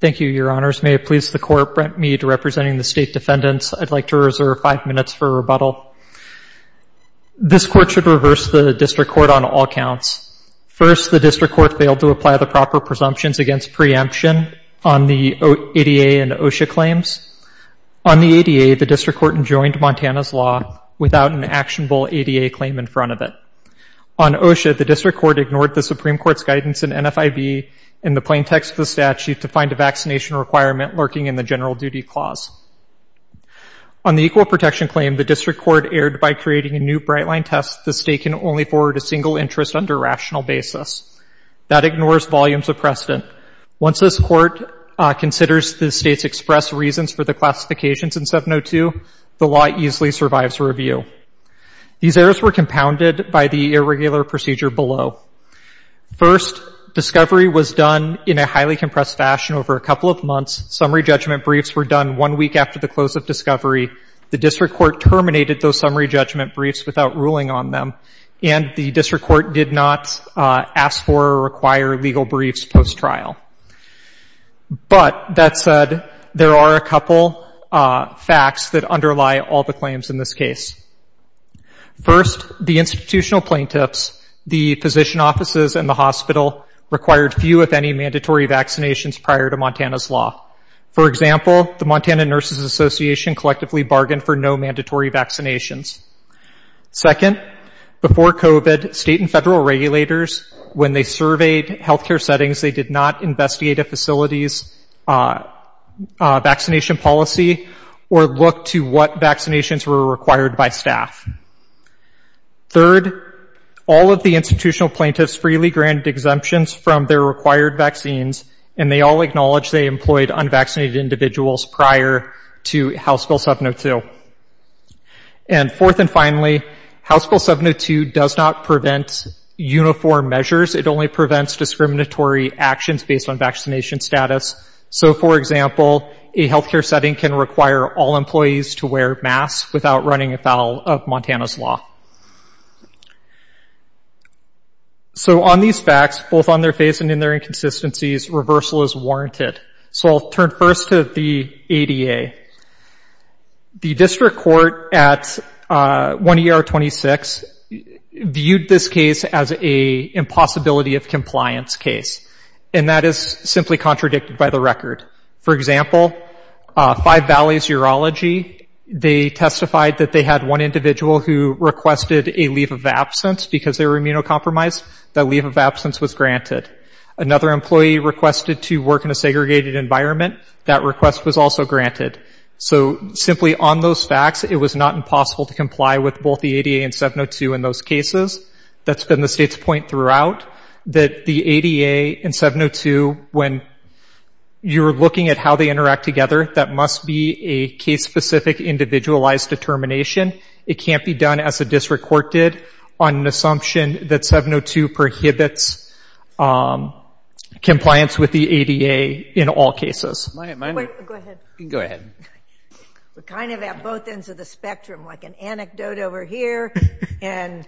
Thank you, Your Honors. May it please the Court, Brent Mead representing the State Defendants, I'd like to reserve five minutes for rebuttal. This Court should reverse the District Court on all counts. First, the District Court failed to apply the proper presumptions against preemption on the ADA and OSHA claims. On the ADA, the District Court enjoined Montana's law without an actionable ADA claim in front of it. On OSHA, the District Court ignored the Supreme Court's guidance in NFIB in the plain text of the statute to find a vaccination requirement lurking in the General Duty Clause. On the Equal Protection claim, the District Court erred by creating a new bright-line test the State can only forward a single interest under rational basis. That ignores volumes of precedent. Once this Court considers the State's express reasons for the classifications in 702, the law easily survives review. These errors were compounded by the irregular procedure below. First, discovery was done in a highly compressed fashion over a couple of months. Summary judgment briefs were done one week after the close of discovery. The District Court terminated those summary judgment briefs without ruling on them, and the District Court did not ask for or require legal briefs post-trial. But, that said, there are a couple facts that underlie all the claims in this case. First, the institutional plaintiffs, the physician offices, and the hospital required few, if any, mandatory vaccinations prior to Montana's law. For example, the Montana Nurses Association collectively bargained for no mandatory vaccinations. Second, before COVID, State and Federal regulators, when they surveyed health care settings, they did not investigate a facility's vaccination policy or look to what vaccinations were required by staff. Third, all of the institutional plaintiffs freely granted exemptions from their required vaccines, and they all acknowledged they employed unvaccinated individuals prior to House Bill 702. And fourth and finally, House Bill 702 does not prevent uniform measures. It only prevents discriminatory actions based on vaccination status. So, for example, a health care setting can require all employees to wear masks without running afoul of Montana's law. So, on these facts, both on their face and in their inconsistencies, reversal is warranted. So, I'll turn first to the ADA. The district court at 1ER26 viewed this case as an impossibility of compliance case, and that is simply contradicted by the record. For example, Five Valleys Urology, they testified that they had one individual who requested a leave of absence because they were immunocompromised. That leave of absence was granted. Another employee requested to work in a segregated environment. That request was also granted. So, simply on those facts, it was not impossible to comply with both the ADA and 702 in those cases. That's been the state's point throughout, that the ADA and 702, when you're looking at how they interact together, that must be a case-specific, individualized determination. It can't be done, as the district court did, on an assumption that 702 prohibits compliance with the ADA in all cases. Go ahead. We're kind of at both ends of the spectrum, like an anecdote over here and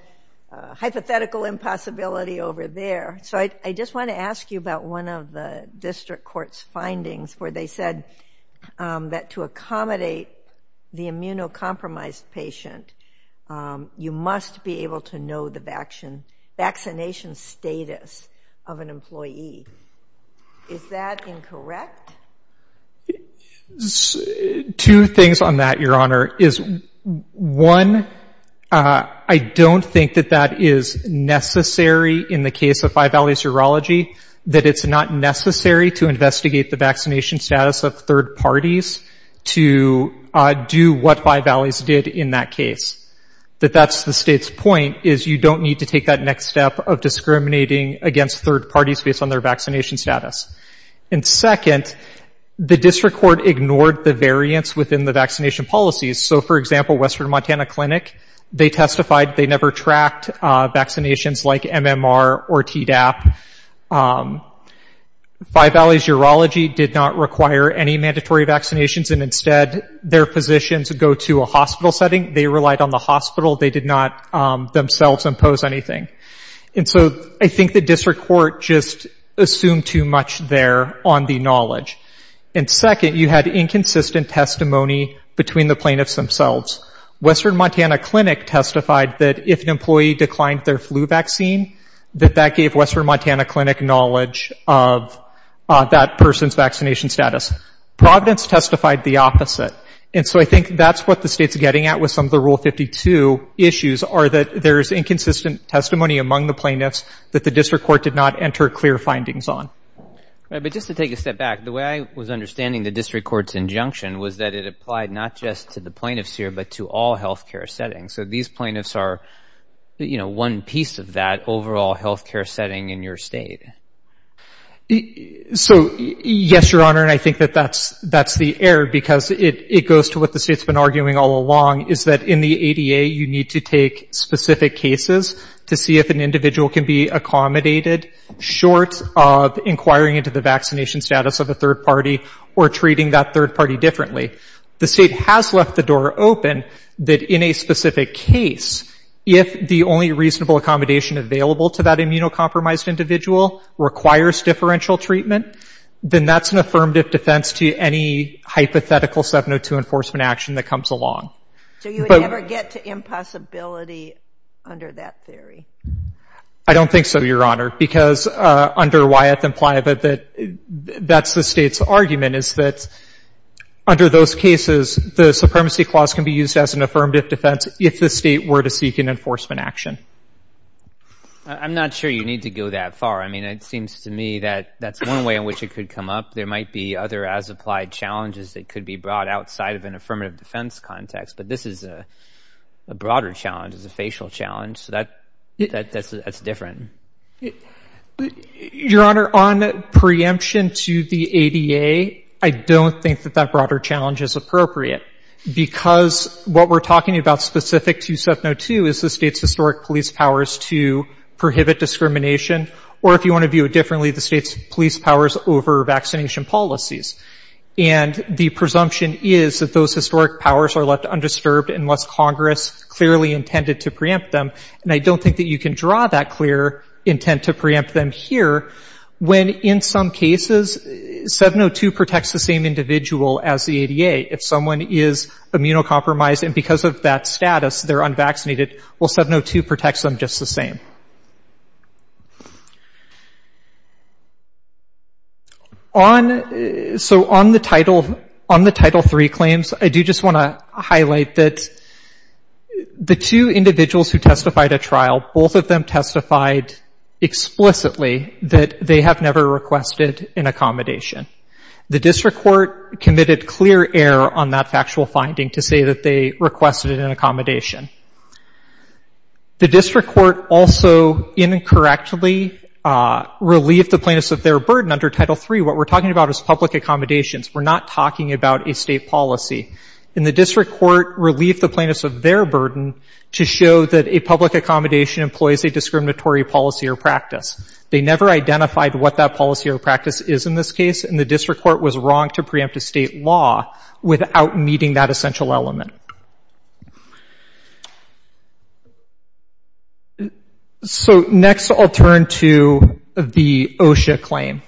a hypothetical impossibility over there. So, I just want to ask you about one of the district court's findings, where they said that to accommodate the immunocompromised patient, you must be able to know the vaccination status of an employee. Is that incorrect? Two things on that, Your Honor. One, I don't think that that is necessary in the case of Five Valleys Urology, that it's not necessary to investigate the vaccination status of third parties to do what Five Valleys did in that case. That that's the state's point, is you don't need to take that next step of discriminating against third parties based on their vaccination status. And second, the district court ignored the variance within the vaccination policies. So, for example, Western Montana Clinic, they testified they never tracked vaccinations like MMR or Tdap. Five Valleys Urology did not require any mandatory vaccinations and instead their positions go to a hospital setting. They relied on the hospital. They did not themselves impose anything. And so I think the district court just assumed too much there on the knowledge. And second, you had inconsistent testimony between the plaintiffs themselves. Western Montana Clinic testified that if an employee declined their flu vaccine, that that gave Western Montana Clinic knowledge of that person's vaccination status. Providence testified the opposite. And so I think that's what the state's getting at with some of the Rule 52 issues, are that there's inconsistent testimony among the plaintiffs that the district court did not enter clear findings on. But just to take a step back, the way I was understanding the district court's injunction was that it applied not just to the plaintiffs here but to all health care settings. So these plaintiffs are, you know, one piece of that overall health care setting in your state. So, yes, Your Honor, and I think that that's the error because it goes to what the state's been arguing all along, is that in the ADA you need to take specific cases to see if an individual can be accommodated short of inquiring into the vaccination status of a third party or treating that third party differently. The state has left the door open that in a specific case, if the only reasonable accommodation available to that immunocompromised individual requires differential treatment, then that's an affirmative defense to any hypothetical 702 enforcement action that comes along. So you would never get to impossibility under that theory? I don't think so, Your Honor, because under Wyeth and Playa that's the state's argument, is that under those cases the supremacy clause can be used as an affirmative defense if the state were to seek an enforcement action. I'm not sure you need to go that far. I mean, it seems to me that that's one way in which it could come up. There might be other as-applied challenges that could be brought outside of an affirmative defense context, but this is a broader challenge, it's a facial challenge, so that's different. Your Honor, on preemption to the ADA, I don't think that that broader challenge is appropriate because what we're talking about specific to 702 is the state's historic police powers to prohibit discrimination, or if you want to view it differently, the state's police powers over vaccination policies. And the presumption is that those historic powers are left undisturbed unless Congress clearly intended to preempt them, and I don't think that you can draw that clear intent to preempt them here when in some cases 702 protects the same individual as the ADA. If someone is immunocompromised and because of that status they're unvaccinated, well, 702 protects them just the same. So on the Title III claims, I do just want to highlight that the two individuals who testified at trial, both of them testified explicitly that they have never requested an accommodation. The district court committed clear error on that factual finding to say that they requested an accommodation. The district court also incorrectly relieved the plaintiffs of their burden under Title III. What we're talking about is public accommodations. We're not talking about a state policy. And the district court relieved the plaintiffs of their burden to show that a public accommodation employs a discriminatory policy or practice. They never identified what that policy or practice is in this case, and the district court was wrong to preempt a state law without meeting that essential element. So next I'll turn to the OSHA claim.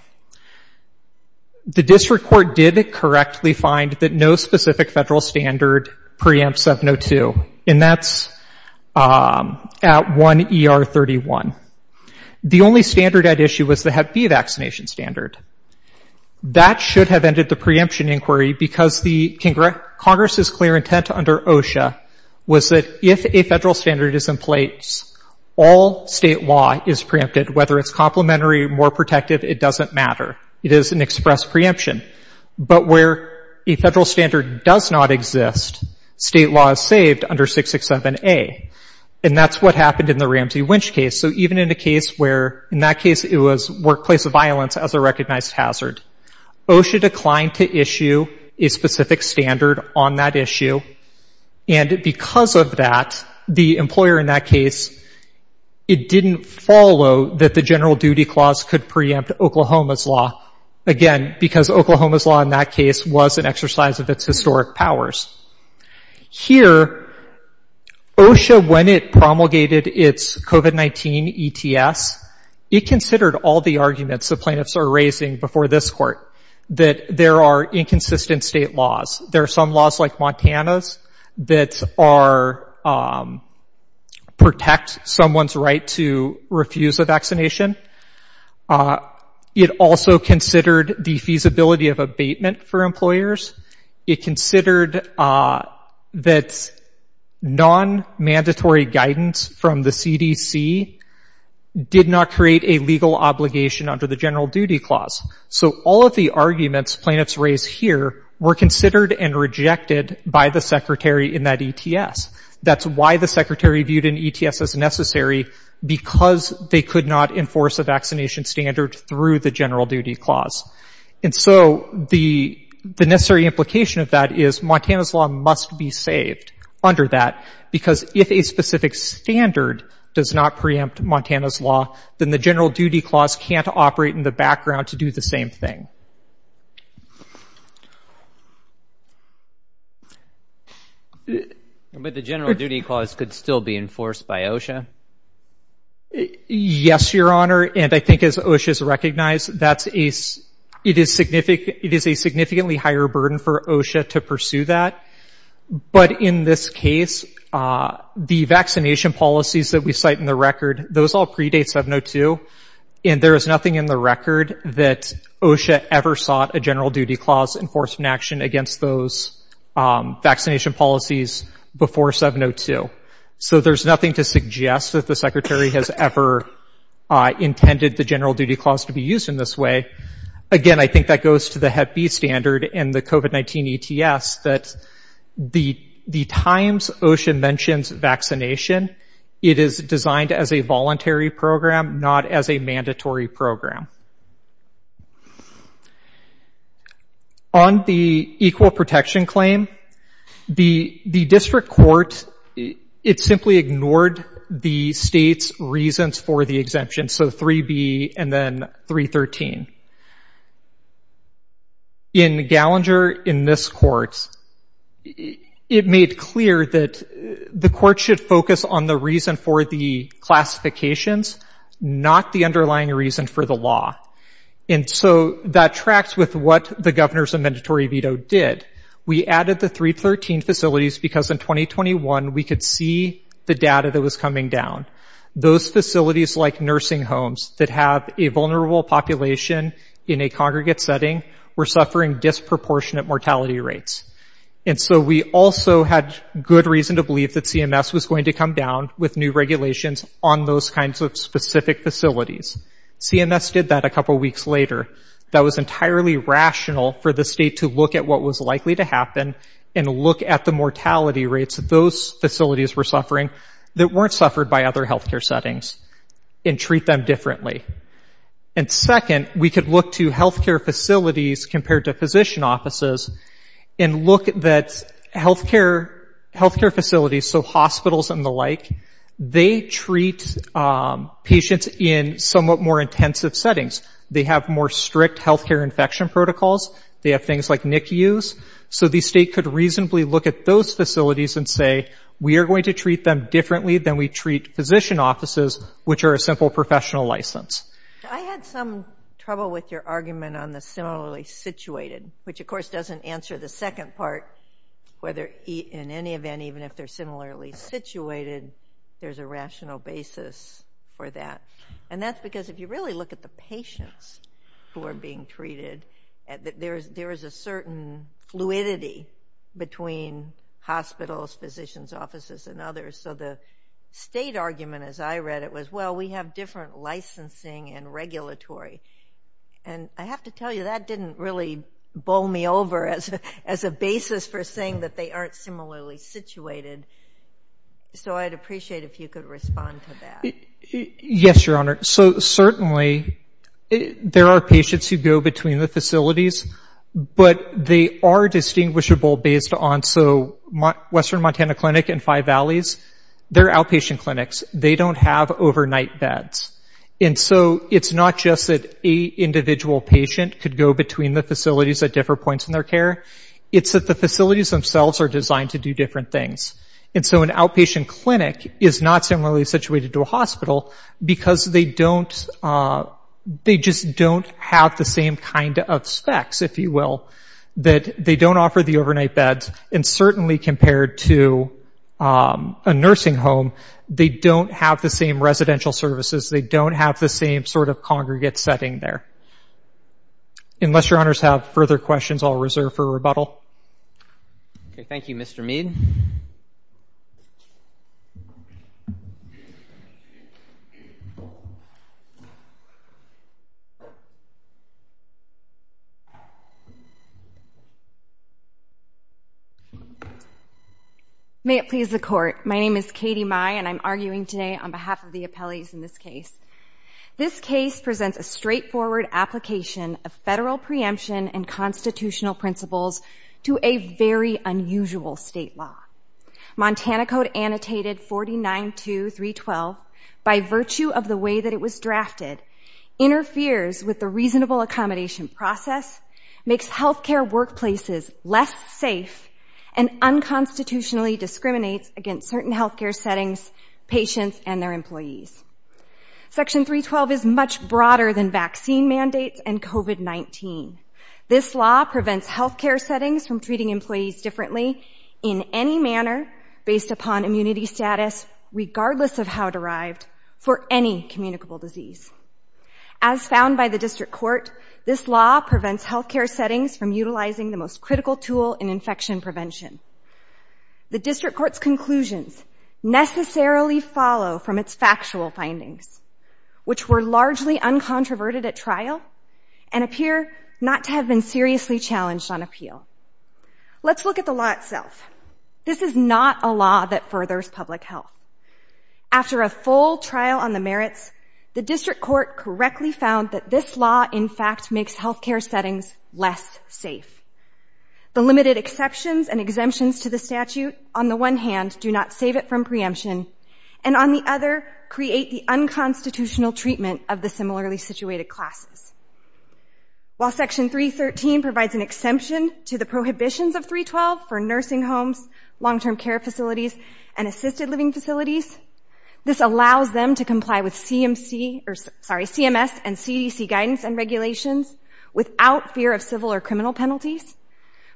The district court did correctly find that no specific federal standard preempts 702, and that's at 1 ER 31. The only standard at issue was the hep B vaccination standard. That should have ended the preemption inquiry because Congress's clear intent under OSHA was that if a federal standard is in place, all state law is preempted, whether it's complementary or more protective, it doesn't matter. It is an express preemption. But where a federal standard does not exist, state law is saved under 667A, and that's what happened in the Ramsey-Winch case. So even in a case where in that case it was workplace violence as a recognized hazard, OSHA declined to issue a specific standard on that issue, and because of that, the employer in that case, it didn't follow that the general duty clause could preempt Oklahoma's law, again, because Oklahoma's law in that case was an exercise of its historic powers. Here, OSHA, when it promulgated its COVID-19 ETS, it considered all the arguments the plaintiffs are raising before this court, that there are inconsistent state laws. There are some laws like Montana's that protect someone's right to refuse a vaccination. It also considered the feasibility of abatement for employers. It considered that non-mandatory guidance from the CDC did not create a legal obligation under the general duty clause. So all of the arguments plaintiffs raise here were considered and rejected by the secretary in that ETS. That's why the secretary viewed an ETS as necessary, because they could not enforce a vaccination standard through the general duty clause. And so the necessary implication of that is Montana's law must be saved under that, because if a specific standard does not preempt Montana's law, then the general duty clause can't operate in the background to do the same thing. But the general duty clause could still be enforced by OSHA? Yes, Your Honor, and I think as OSHA has recognized, it is a significantly higher burden for OSHA to pursue that. But in this case, the vaccination policies that we cite in the record, those all predate 702, and there is nothing in the record that OSHA ever sought a general duty clause enforcement action against those vaccination policies before 702. So there's nothing to suggest that the secretary has ever intended the general duty clause to be used in this way. Again, I think that goes to the HEP-B standard and the COVID-19 ETS that the times OSHA mentions vaccination, it is designed as a voluntary program, not as a mandatory program. On the equal protection claim, the district court, it simply ignored the state's reasons for the exemption, so 3B and then 313. In Gallinger, in this court, it made clear that the court should focus on the reason for the classifications, not the underlying reason for the law. And so that tracks with what the governor's mandatory veto did. We added the 313 facilities because in 2021, we could see the data that was coming down. Those facilities like nursing homes that have a vulnerable population in a congregate setting were suffering disproportionate mortality rates. And so we also had good reason to believe that CMS was going to come down with new regulations on those kinds of specific facilities. CMS did that a couple weeks later. That was entirely rational for the state to look at what was likely to happen and look at the mortality rates of those facilities were suffering that weren't suffered by other healthcare settings and treat them differently. And second, we could look to healthcare facilities compared to physician offices and look at that healthcare facilities, so hospitals and the like, they treat patients in somewhat more intensive settings. They have more strict healthcare infection protocols. They have things like NICUs. So the state could reasonably look at those facilities and say, we are going to treat them differently than we treat physician offices, which are a simple professional license. I had some trouble with your argument on the similarly situated, which of course doesn't answer the second part, whether in any event, even if they're similarly situated, there's a rational basis for that. And that's because if you really look at the patients who are being treated, there is a certain fluidity between hospitals, physicians' offices, and others. So the state argument, as I read it, was, well, we have different licensing and regulatory. And I have to tell you, that didn't really bowl me over as a basis for saying that they aren't similarly situated. So I'd appreciate if you could respond to that. Yes, Your Honor. So certainly there are patients who go between the facilities, but they are distinguishable based on, so Western Montana Clinic and Five Valleys, they're outpatient clinics. They don't have overnight beds. And so it's not just that an individual patient could go between the facilities at different points in their care. It's that the facilities themselves are designed to do different things. And so an outpatient clinic is not similarly situated to a hospital because they just don't have the same kind of specs, if you will, that they don't offer the overnight beds. And certainly compared to a nursing home, they don't have the same residential services. They don't have the same sort of congregate setting there. Unless Your Honors have further questions, I'll reserve for rebuttal. Okay, thank you, Mr. Mead. May it please the Court. My name is Katie Mai, and I'm arguing today on behalf of the appellees in this case. This case presents a straightforward application of federal preemption and constitutional principles to a very unusual state law. Montana Code Annotated 49.2.312, by virtue of the way that it was drafted, interferes with the reasonable accommodation process, makes health care workplaces less safe, and unconstitutionally discriminates against certain health care settings, patients, and their employees. Section 312 is much broader than vaccine mandates and COVID-19. This law prevents health care settings from treating employees differently in any manner based upon immunity status, regardless of how derived, for any communicable disease. As found by the District Court, this law prevents health care settings from utilizing the most critical tool in infection prevention. The District Court's conclusions necessarily follow from its factual findings, which were largely uncontroverted at trial and appear not to have been seriously challenged on appeal. Let's look at the law itself. This is not a law that furthers public health. After a full trial on the merits, the District Court correctly found that this law, in fact, makes health care settings less safe. The limited exceptions and exemptions to the statute, on the one hand, do not save it from preemption and, on the other, create the unconstitutional treatment of the similarly situated classes. While Section 313 provides an exemption to the prohibitions of 312 for nursing homes, long-term care facilities, and assisted living facilities, this allows them to comply with CMS and CDC guidance and regulations without fear of civil or criminal penalties,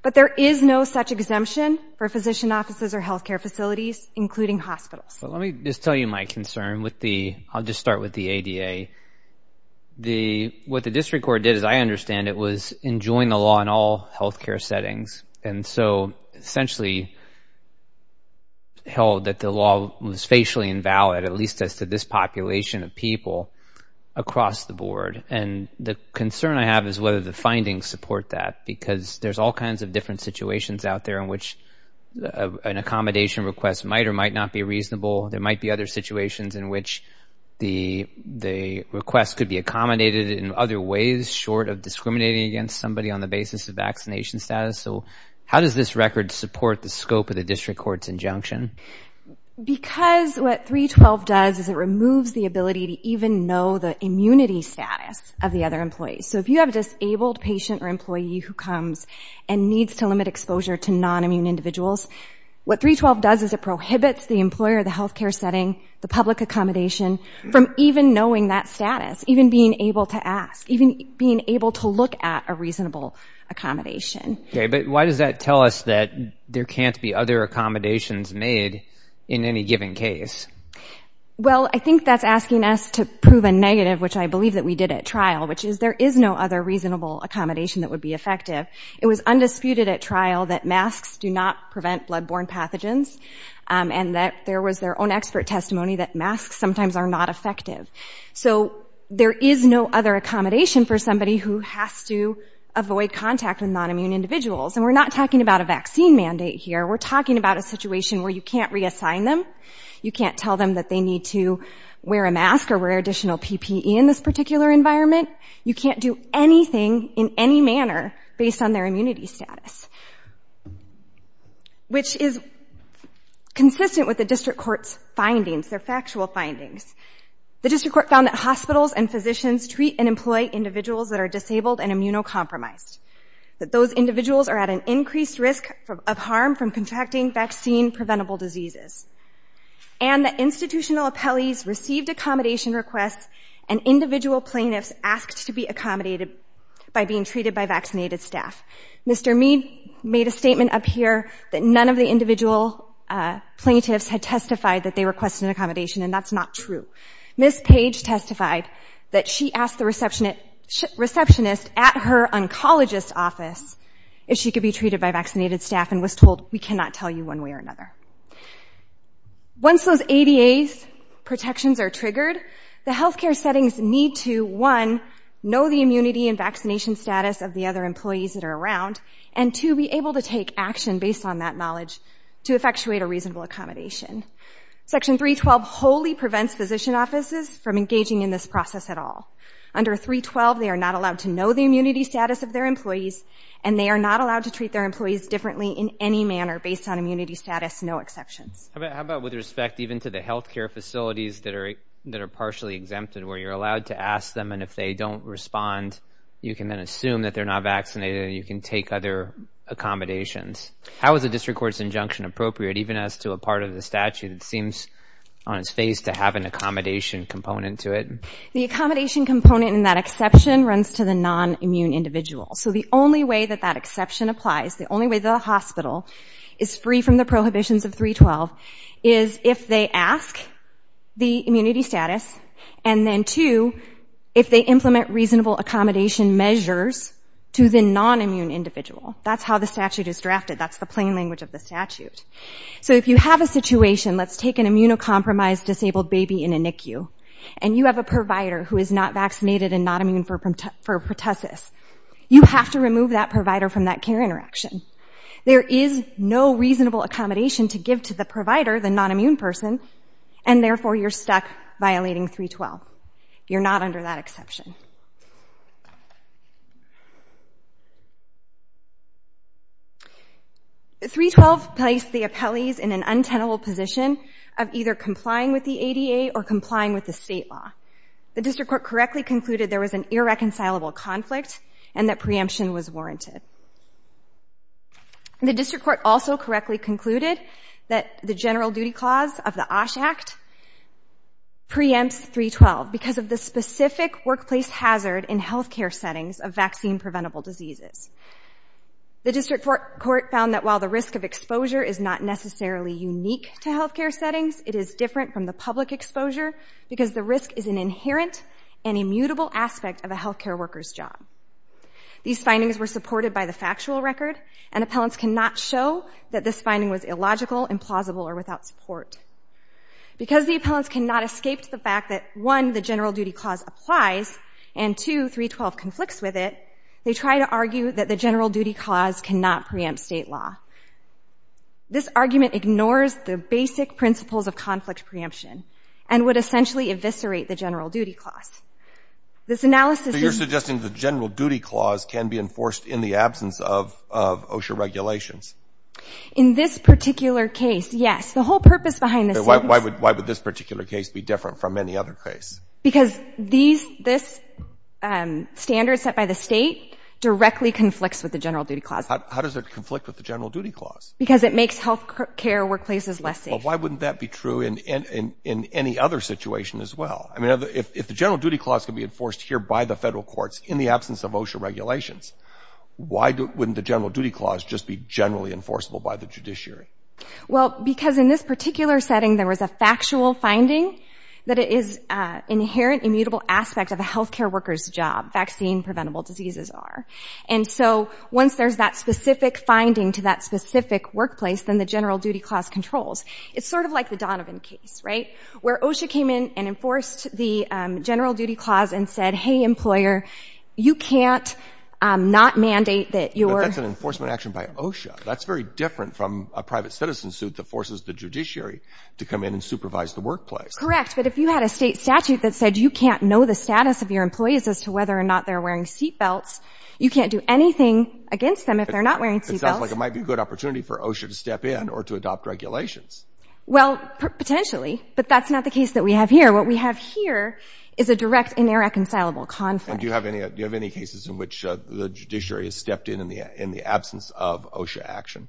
but there is no such exemption for physician offices or health care facilities, including hospitals. Let me just tell you my concern with the ADA. What the District Court did, as I understand it, was enjoin the law in all health care settings and so essentially held that the law was facially invalid, at least as to this population of people across the board. And the concern I have is whether the findings support that because there's all kinds of different situations out there in which an accommodation request might or might not be reasonable. There might be other situations in which the request could be accommodated in other ways short of discriminating against somebody on the basis of vaccination status. So how does this record support the scope of the District Court's injunction? Because what 312 does is it removes the ability to even know the immunity status of the other employees. So if you have a disabled patient or employee who comes and needs to limit exposure to nonimmune individuals, what 312 does is it prohibits the employer, the health care setting, the public accommodation from even knowing that status, even being able to ask, even being able to look at a reasonable accommodation. Okay, but why does that tell us that there can't be other accommodations made in any given case? Well, I think that's asking us to prove a negative, which I believe that we did at trial, which is there is no other reasonable accommodation that would be effective. It was undisputed at trial that masks do not prevent blood-borne pathogens and that there was their own expert testimony that masks sometimes are not effective. So there is no other accommodation for somebody who has to avoid contact with nonimmune individuals. And we're not talking about a vaccine mandate here. We're talking about a situation where you can't reassign them. You can't tell them that they need to wear a mask or wear additional PPE in this particular environment. You can't do anything in any manner based on their immunity status, which is consistent with the District Court's findings. They're factual findings. The District Court found that hospitals and physicians treat and employ individuals that are disabled and immunocompromised, that those individuals are at an increased risk of harm from contracting vaccine-preventable diseases, and that institutional appellees received accommodation requests and individual plaintiffs asked to be accommodated by being treated by vaccinated staff. Mr. Mead made a statement up here that none of the individual plaintiffs had testified that they requested an accommodation, and that's not true. Ms. Page testified that she asked the receptionist at her oncologist's office if she could be treated by vaccinated staff and was told, we cannot tell you one way or another. Once those ADA's protections are triggered, the health care settings need to, one, know the immunity and vaccination status of the other employees that are around, and, two, be able to take action based on that knowledge to effectuate a reasonable accommodation. Section 312 wholly prevents physician offices from engaging in this process at all. Under 312, they are not allowed to know the immunity status of their employees, and they are not allowed to treat their employees differently in any manner based on immunity status, no exceptions. How about with respect even to the health care facilities that are partially exempted, where you're allowed to ask them, and if they don't respond, you can then assume that they're not vaccinated and you can take other accommodations. How is the District Court's injunction appropriate, even as to a part of the statute that seems on its face to have an accommodation component to it? The accommodation component in that exception runs to the non-immune individual. So the only way that that exception applies, the only way the hospital is free from the prohibitions of 312, is if they ask the immunity status, and then, two, if they implement reasonable accommodation measures to the non-immune individual. That's how the statute is drafted. That's the plain language of the statute. So if you have a situation, let's take an immunocompromised disabled baby in a NICU, and you have a provider who is not vaccinated and not immune for pertussis, you have to remove that provider from that care interaction. There is no reasonable accommodation to give to the provider, the non-immune person, and therefore you're stuck violating 312. You're not under that exception. 312 placed the appellees in an untenable position of either complying with the ADA or complying with the state law. The district court correctly concluded there was an irreconcilable conflict and that preemption was warranted. The district court also correctly concluded that the general duty clause of the OSH Act preempts 312 because of the specific workplace hazard in health care settings of vaccine-preventable diseases. The district court found that while the risk of exposure is not necessarily unique to health care settings, it is different from the public exposure because the risk is an inherent and immutable aspect of a health care worker's job. These findings were supported by the factual record, and appellants cannot show that this finding was illogical, implausible, or without support. Because the appellants cannot escape the fact that, one, the general duty clause applies, and, two, 312 conflicts with it, they try to argue that the general duty clause cannot preempt state law. This argument ignores the basic principles of conflict preemption and would essentially eviscerate the general duty clause. This analysis is the same. So you're suggesting the general duty clause can be enforced in the absence of OSHA regulations? In this particular case, yes. The whole purpose behind this sentence — Why would this particular case be different from any other case? Because this standard set by the state directly conflicts with the general duty clause. How does it conflict with the general duty clause? Because it makes health care workplaces less safe. Well, why wouldn't that be true in any other situation as well? I mean, if the general duty clause can be enforced here by the federal courts in the absence of OSHA regulations, why wouldn't the general duty clause just be generally enforceable by the judiciary? Well, because in this particular setting there was a factual finding that it is an inherent immutable aspect of a health care worker's job, vaccine-preventable diseases are. And so once there's that specific finding to that specific workplace, then the general duty clause controls. It's sort of like the Donovan case, right, where OSHA came in and enforced the general duty clause and said, hey, employer, you can't not mandate that your — But that's an enforcement action by OSHA. That's very different from a private citizen suit that forces the judiciary to come in and supervise the workplace. Correct. But if you had a state statute that said you can't know the status of your employees as to whether or not they're wearing seatbelts, you can't do anything against them if they're not wearing seatbelts. It sounds like it might be a good opportunity for OSHA to step in or to adopt regulations. Well, potentially. But that's not the case that we have here. What we have here is a direct, inair-reconcilable conflict. And do you have any cases in which the judiciary has stepped in in the absence of OSHA action?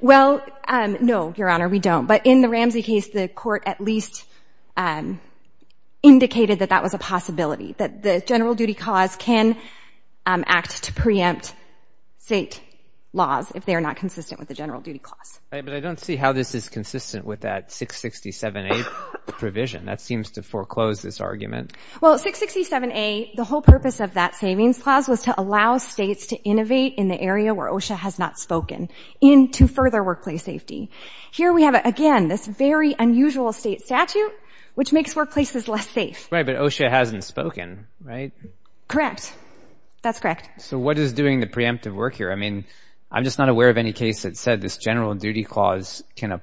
Well, no, Your Honor, we don't. But in the Ramsey case, the court at least indicated that that was a possibility, that the general duty clause can act to preempt state laws if they are not consistent with the general duty clause. But I don't see how this is consistent with that 667A provision. That seems to foreclose this argument. Well, 667A, the whole purpose of that savings clause was to allow states to innovate in the area where OSHA has not spoken into further workplace safety. Here we have, again, this very unusual state statute, which makes workplaces less safe. Right, but OSHA hasn't spoken, right? Correct. That's correct. So what is doing the preemptive work here? I mean, I'm just not aware of any case that said this general duty clause can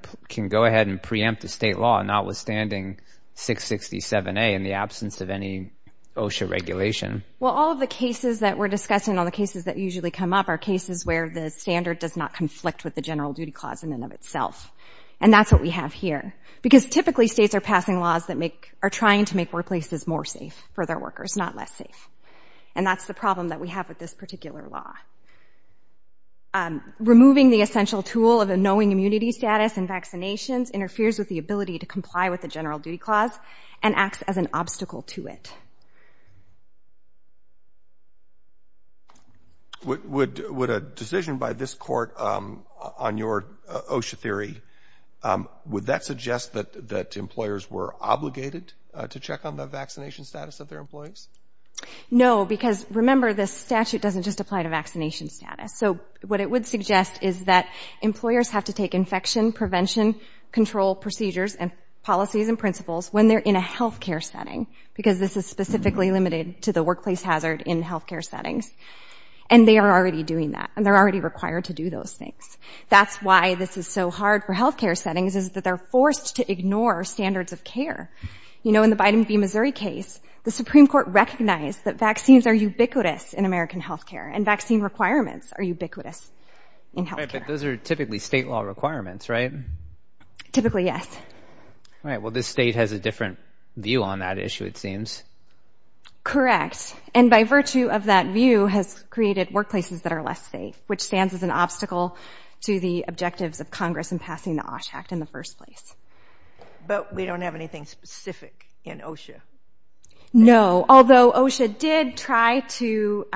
go ahead and preempt a state law notwithstanding 667A in the absence of any OSHA regulation. Well, all of the cases that we're discussing, all the cases that usually come up, are cases where the standard does not conflict with the general duty clause in and of itself. And that's what we have here. Because typically, states are passing laws that are trying to make workplaces more safe for their workers, not less safe. And that's the problem that we have with this particular law. Removing the essential tool of a knowing immunity status and vaccinations interferes with the ability to comply with the general duty clause and acts as an obstacle to it. Would a decision by this court on your OSHA theory, would that suggest that employers were obligated to check on the vaccination status of their employees? No, because remember, this statute doesn't just apply to vaccination status. So what it would suggest is that employers have to take infection prevention control procedures and policies and principles when they're in a healthcare setting. Because this is specifically limited to the workplace hazard in healthcare settings. And they are already doing that. And they're already required to do those things. That's why this is so hard for healthcare settings, is that they're forced to ignore standards of care. You know, in the Biden v. Missouri case, the Supreme Court recognized that vaccines are ubiquitous in American healthcare. And vaccine requirements are ubiquitous in healthcare. All right, but those are typically state law requirements, right? Typically, yes. All right, well, this state has a different view on that issue, it seems. Correct. And by virtue of that view has created workplaces that are less safe, which stands as an obstacle to the objectives of Congress in passing the OSHA Act in the first place. But we don't have anything specific in OSHA. No, although OSHA did try to,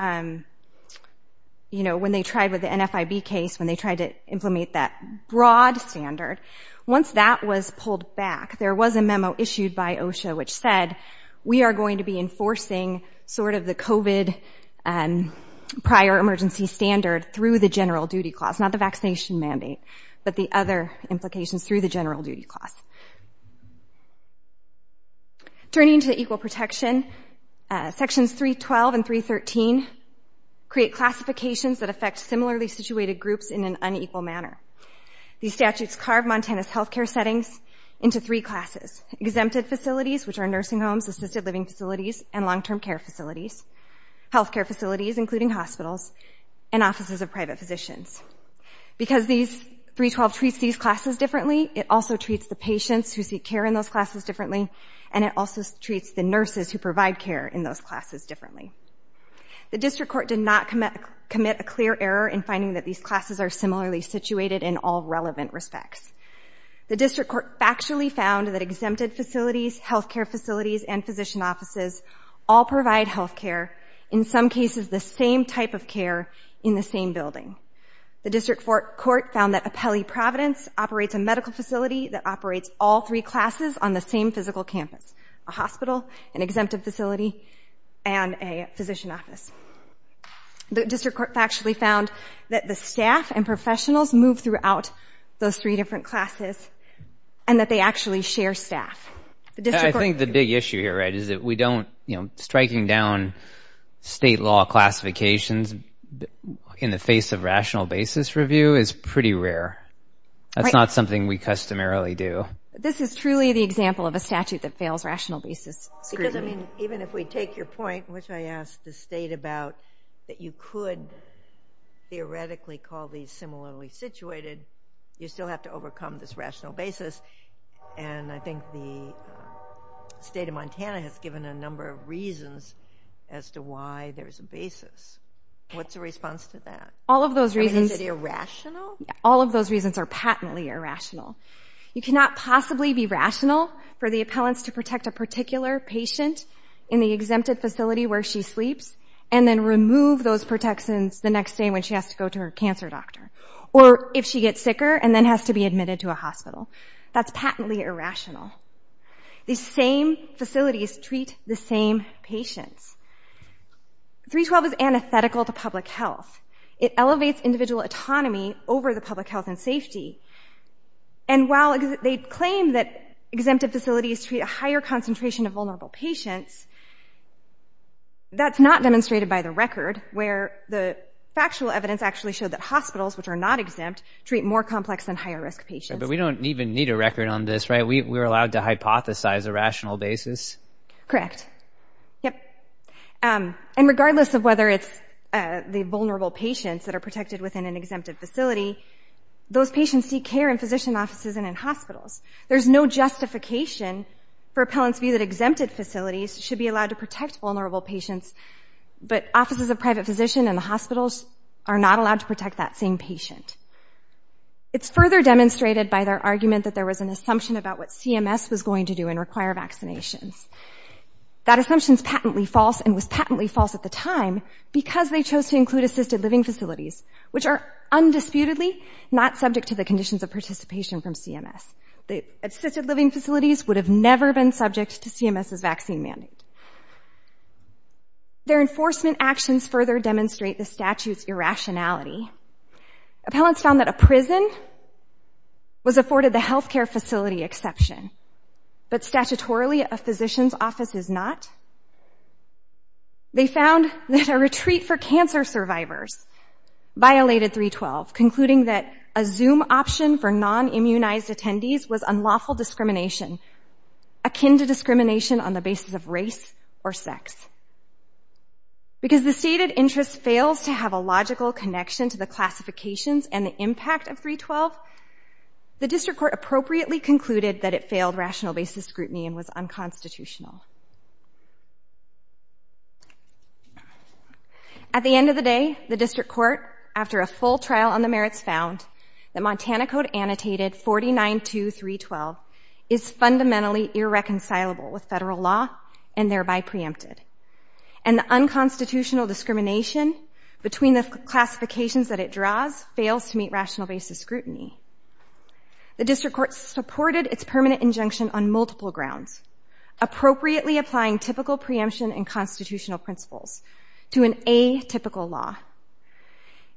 you know, when they tried with the NFIB case, when they tried to implement that broad standard, once that was pulled back, there was a memo issued by OSHA which said, we are going to be enforcing sort of the COVID prior emergency standard through the general duty clause, not the vaccination mandate, but the other implications through the general duty clause. Turning to equal protection, Sections 312 and 313 create classifications that affect similarly situated groups in an unequal manner. These statutes carve Montana's healthcare settings into three classes, exempted facilities, which are nursing homes, assisted living facilities, and long-term care facilities, healthcare facilities, including hospitals, and offices of private physicians. Because 312 treats these classes differently, it also treats the patients who seek care in those classes differently, and it also treats the nurses who provide care in those classes differently. The District Court did not commit a clear error in finding that these classes are similarly situated in all relevant respects. The District Court factually found that exempted facilities, healthcare facilities, and physician offices all provide healthcare, in some cases the same type of care in the same building. The District Court found that a Pelley Providence operates a medical facility that operates all three classes on the same physical campus, a hospital, an exempted facility, and a physician office. The District Court factually found that the staff and professionals move throughout those three different classes and that they actually share staff. I think the big issue here, right, is that we don't, you know, striking down state law classifications in the face of rational basis review is pretty rare. That's not something we customarily do. This is truly the example of a statute that fails rational basis scrutiny. Even if we take your point, which I asked the state about, that you could theoretically call these similarly situated, you still have to overcome this rational basis, and I think the state of Montana has given a number of reasons as to why there's a basis. What's the response to that? Is it irrational? All of those reasons are patently irrational. You cannot possibly be rational for the appellants to protect a particular patient in the exempted facility where she sleeps and then remove those protections the next day when she has to go to her cancer doctor or if she gets sicker and then has to be admitted to a hospital. That's patently irrational. These same facilities treat the same patients. 312 is antithetical to public health. It elevates individual autonomy over the public health and safety. And while they claim that exempted facilities treat a higher concentration of vulnerable patients, that's not demonstrated by the record, where the factual evidence actually showed that hospitals, which are not exempt, treat more complex and higher-risk patients. But we don't even need a record on this, right? We're allowed to hypothesize a rational basis? Correct. Yep. And regardless of whether it's the vulnerable patients that are protected within an exempted facility, those patients seek care in physician offices and in hospitals. There's no justification for appellants' view that exempted facilities should be allowed to protect vulnerable patients, but offices of private physician and the hospitals are not allowed to protect that same patient. It's further demonstrated by their argument that there was an assumption about what CMS was going to do and require vaccinations. That assumption is patently false and was patently false at the time because they chose to include assisted living facilities, which are undisputedly not subject to the conditions of participation from CMS. Assisted living facilities would have never been subject to CMS's vaccine mandate. Their enforcement actions further demonstrate the statute's irrationality. Appellants found that a prison was afforded the health care facility exception, but statutorily a physician's office is not. They found that a retreat for cancer survivors violated 312, concluding that a Zoom option for non-immunized attendees was unlawful discrimination akin to discrimination on the basis of race or sex. Because the stated interest fails to have a logical connection to the classifications and the impact of 312, the District Court appropriately concluded that it failed rational basis scrutiny and was unconstitutional. At the end of the day, the District Court, after a full trial on the merits, found that Montana Code Annotated 49.2.312 is fundamentally irreconcilable with federal law and thereby preempted. And the unconstitutional discrimination between the classifications that it draws fails to meet rational basis scrutiny. The District Court supported its permanent injunction on multiple grounds, appropriately applying typical preemption and constitutional principles to an atypical law.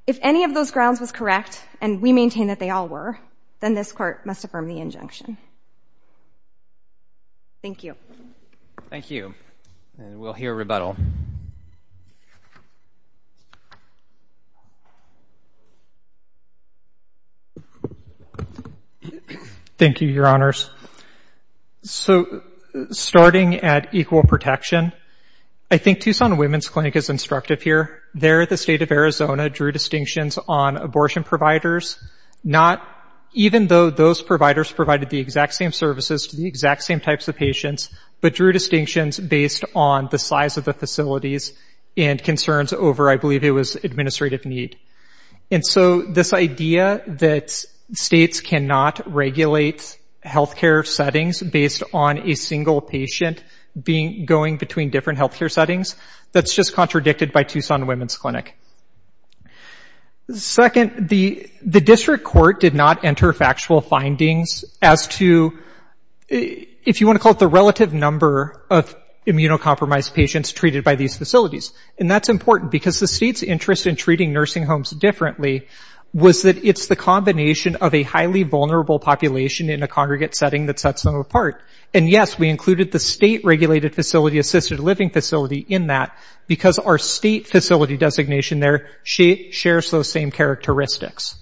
If any of those grounds was correct, and we maintain that they all were, then this Court must affirm the injunction. Thank you. Thank you. And we'll hear rebuttal. Thank you, Your Honors. So, starting at equal protection, I think Tucson Women's Clinic is instructive here. There, the State of Arizona drew distinctions on abortion providers, not even though those providers provided the exact same services to the exact same types of patients, but drew distinctions based on the size of the facilities and concerns over, I believe it was, administrative need. And so, this idea that states cannot regulate healthcare settings based on a single patient going between different healthcare settings, that's just contradicted by Tucson Women's Clinic. Second, the District Court did not enter factual findings as to, if you want to call it the relative number of immunocompromised patients treated by these facilities. And that's important, because the state's interest in treating nursing homes differently was that it's the combination of a highly vulnerable population in a congregate setting that sets them apart. And yes, we included the state-regulated facility-assisted living facility in that, because our state facility designation there shares those same characteristics.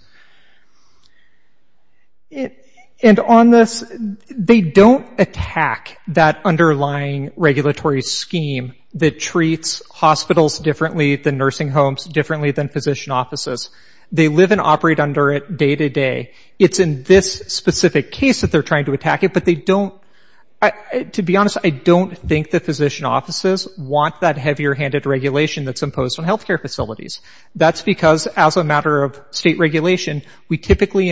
And on this, they don't attack that underlying regulatory scheme that treats hospitals differently than nursing homes differently than physician offices. They live and operate under it day to day. It's in this specific case that they're trying to attack it, but they don't, to be honest, I don't think the physician offices want that heavier-handed regulation that's imposed on healthcare facilities. That's because, as a matter of state regulation, we typically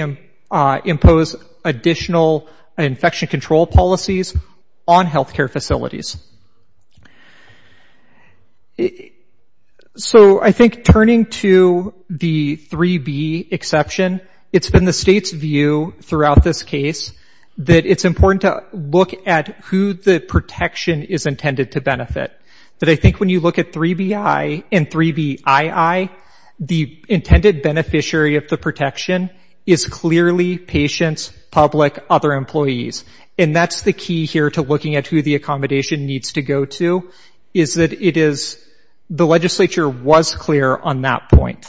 impose additional infection control policies on healthcare facilities. So I think turning to the 3B exception, it's been the state's view throughout this case that it's important to look at who the protection is intended to benefit. But I think when you look at 3BI and 3BII, the intended beneficiary of the protection is clearly patients, public, other employees. And that's the key here to looking at who the accommodation needs to go to, is that the legislature was clear on that point.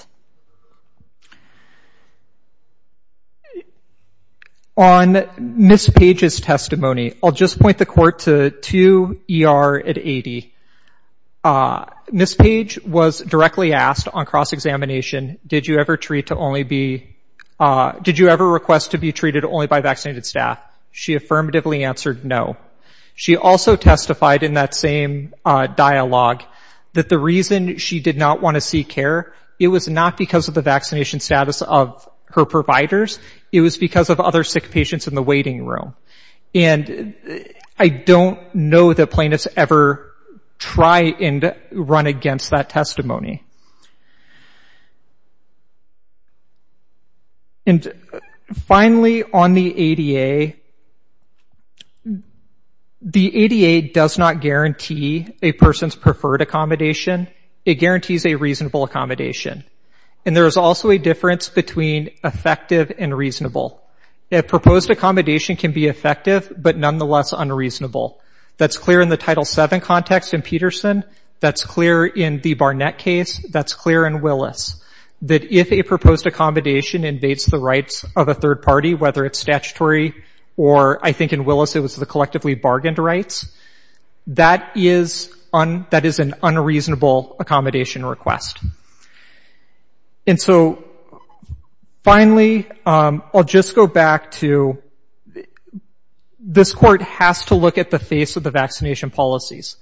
On Ms. Page's testimony, I'll just point the court to 2ER at 80. Ms. Page was directly asked on cross-examination, did you ever request to be treated only by vaccinated staff? She affirmatively answered no. She also testified in that same dialogue that the reason she did not want to seek care, it was not because of the vaccination status of her providers, it was because of other sick patients in the waiting room. And I don't know that plaintiffs ever try and run against that testimony. And finally, on the ADA, the ADA does not guarantee a person's preferred accommodation, it guarantees a reasonable accommodation. And there is also a difference between effective and reasonable. A proposed accommodation can be effective, but nonetheless unreasonable. That's clear in the Title VII context in Peterson, that's clear in the Barnett case, that's clear in Willis. That if a proposed accommodation invades the rights of a third party, whether it's statutory or, I think in Willis, it was the collectively bargained rights, that is an unreasonable accommodation request. And so, finally, I'll just go back to, this court has to look at the face of the vaccination policies.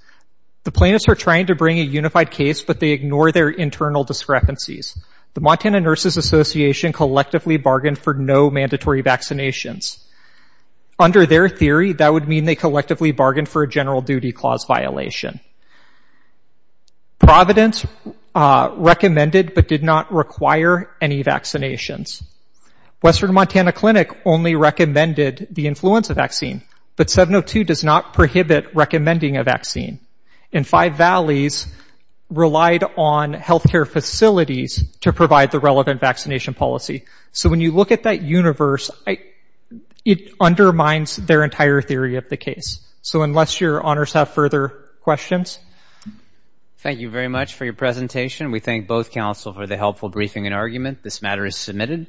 The plaintiffs are trying to bring a unified case, but they ignore their internal discrepancies. The Montana Nurses Association collectively bargained for no mandatory vaccinations. Under their theory, that would mean they collectively bargained for a general duty clause violation. Providence recommended but did not require any vaccinations. Western Montana Clinic only recommended the influenza vaccine, but 702 does not prohibit recommending a vaccine. And Five Valleys relied on healthcare facilities to provide the relevant vaccination policy. So when you look at that universe, it undermines their entire theory of the case. So unless your honors have further questions. Thank you very much for your presentation. We thank both counsel for the helpful briefing and argument. This matter is submitted.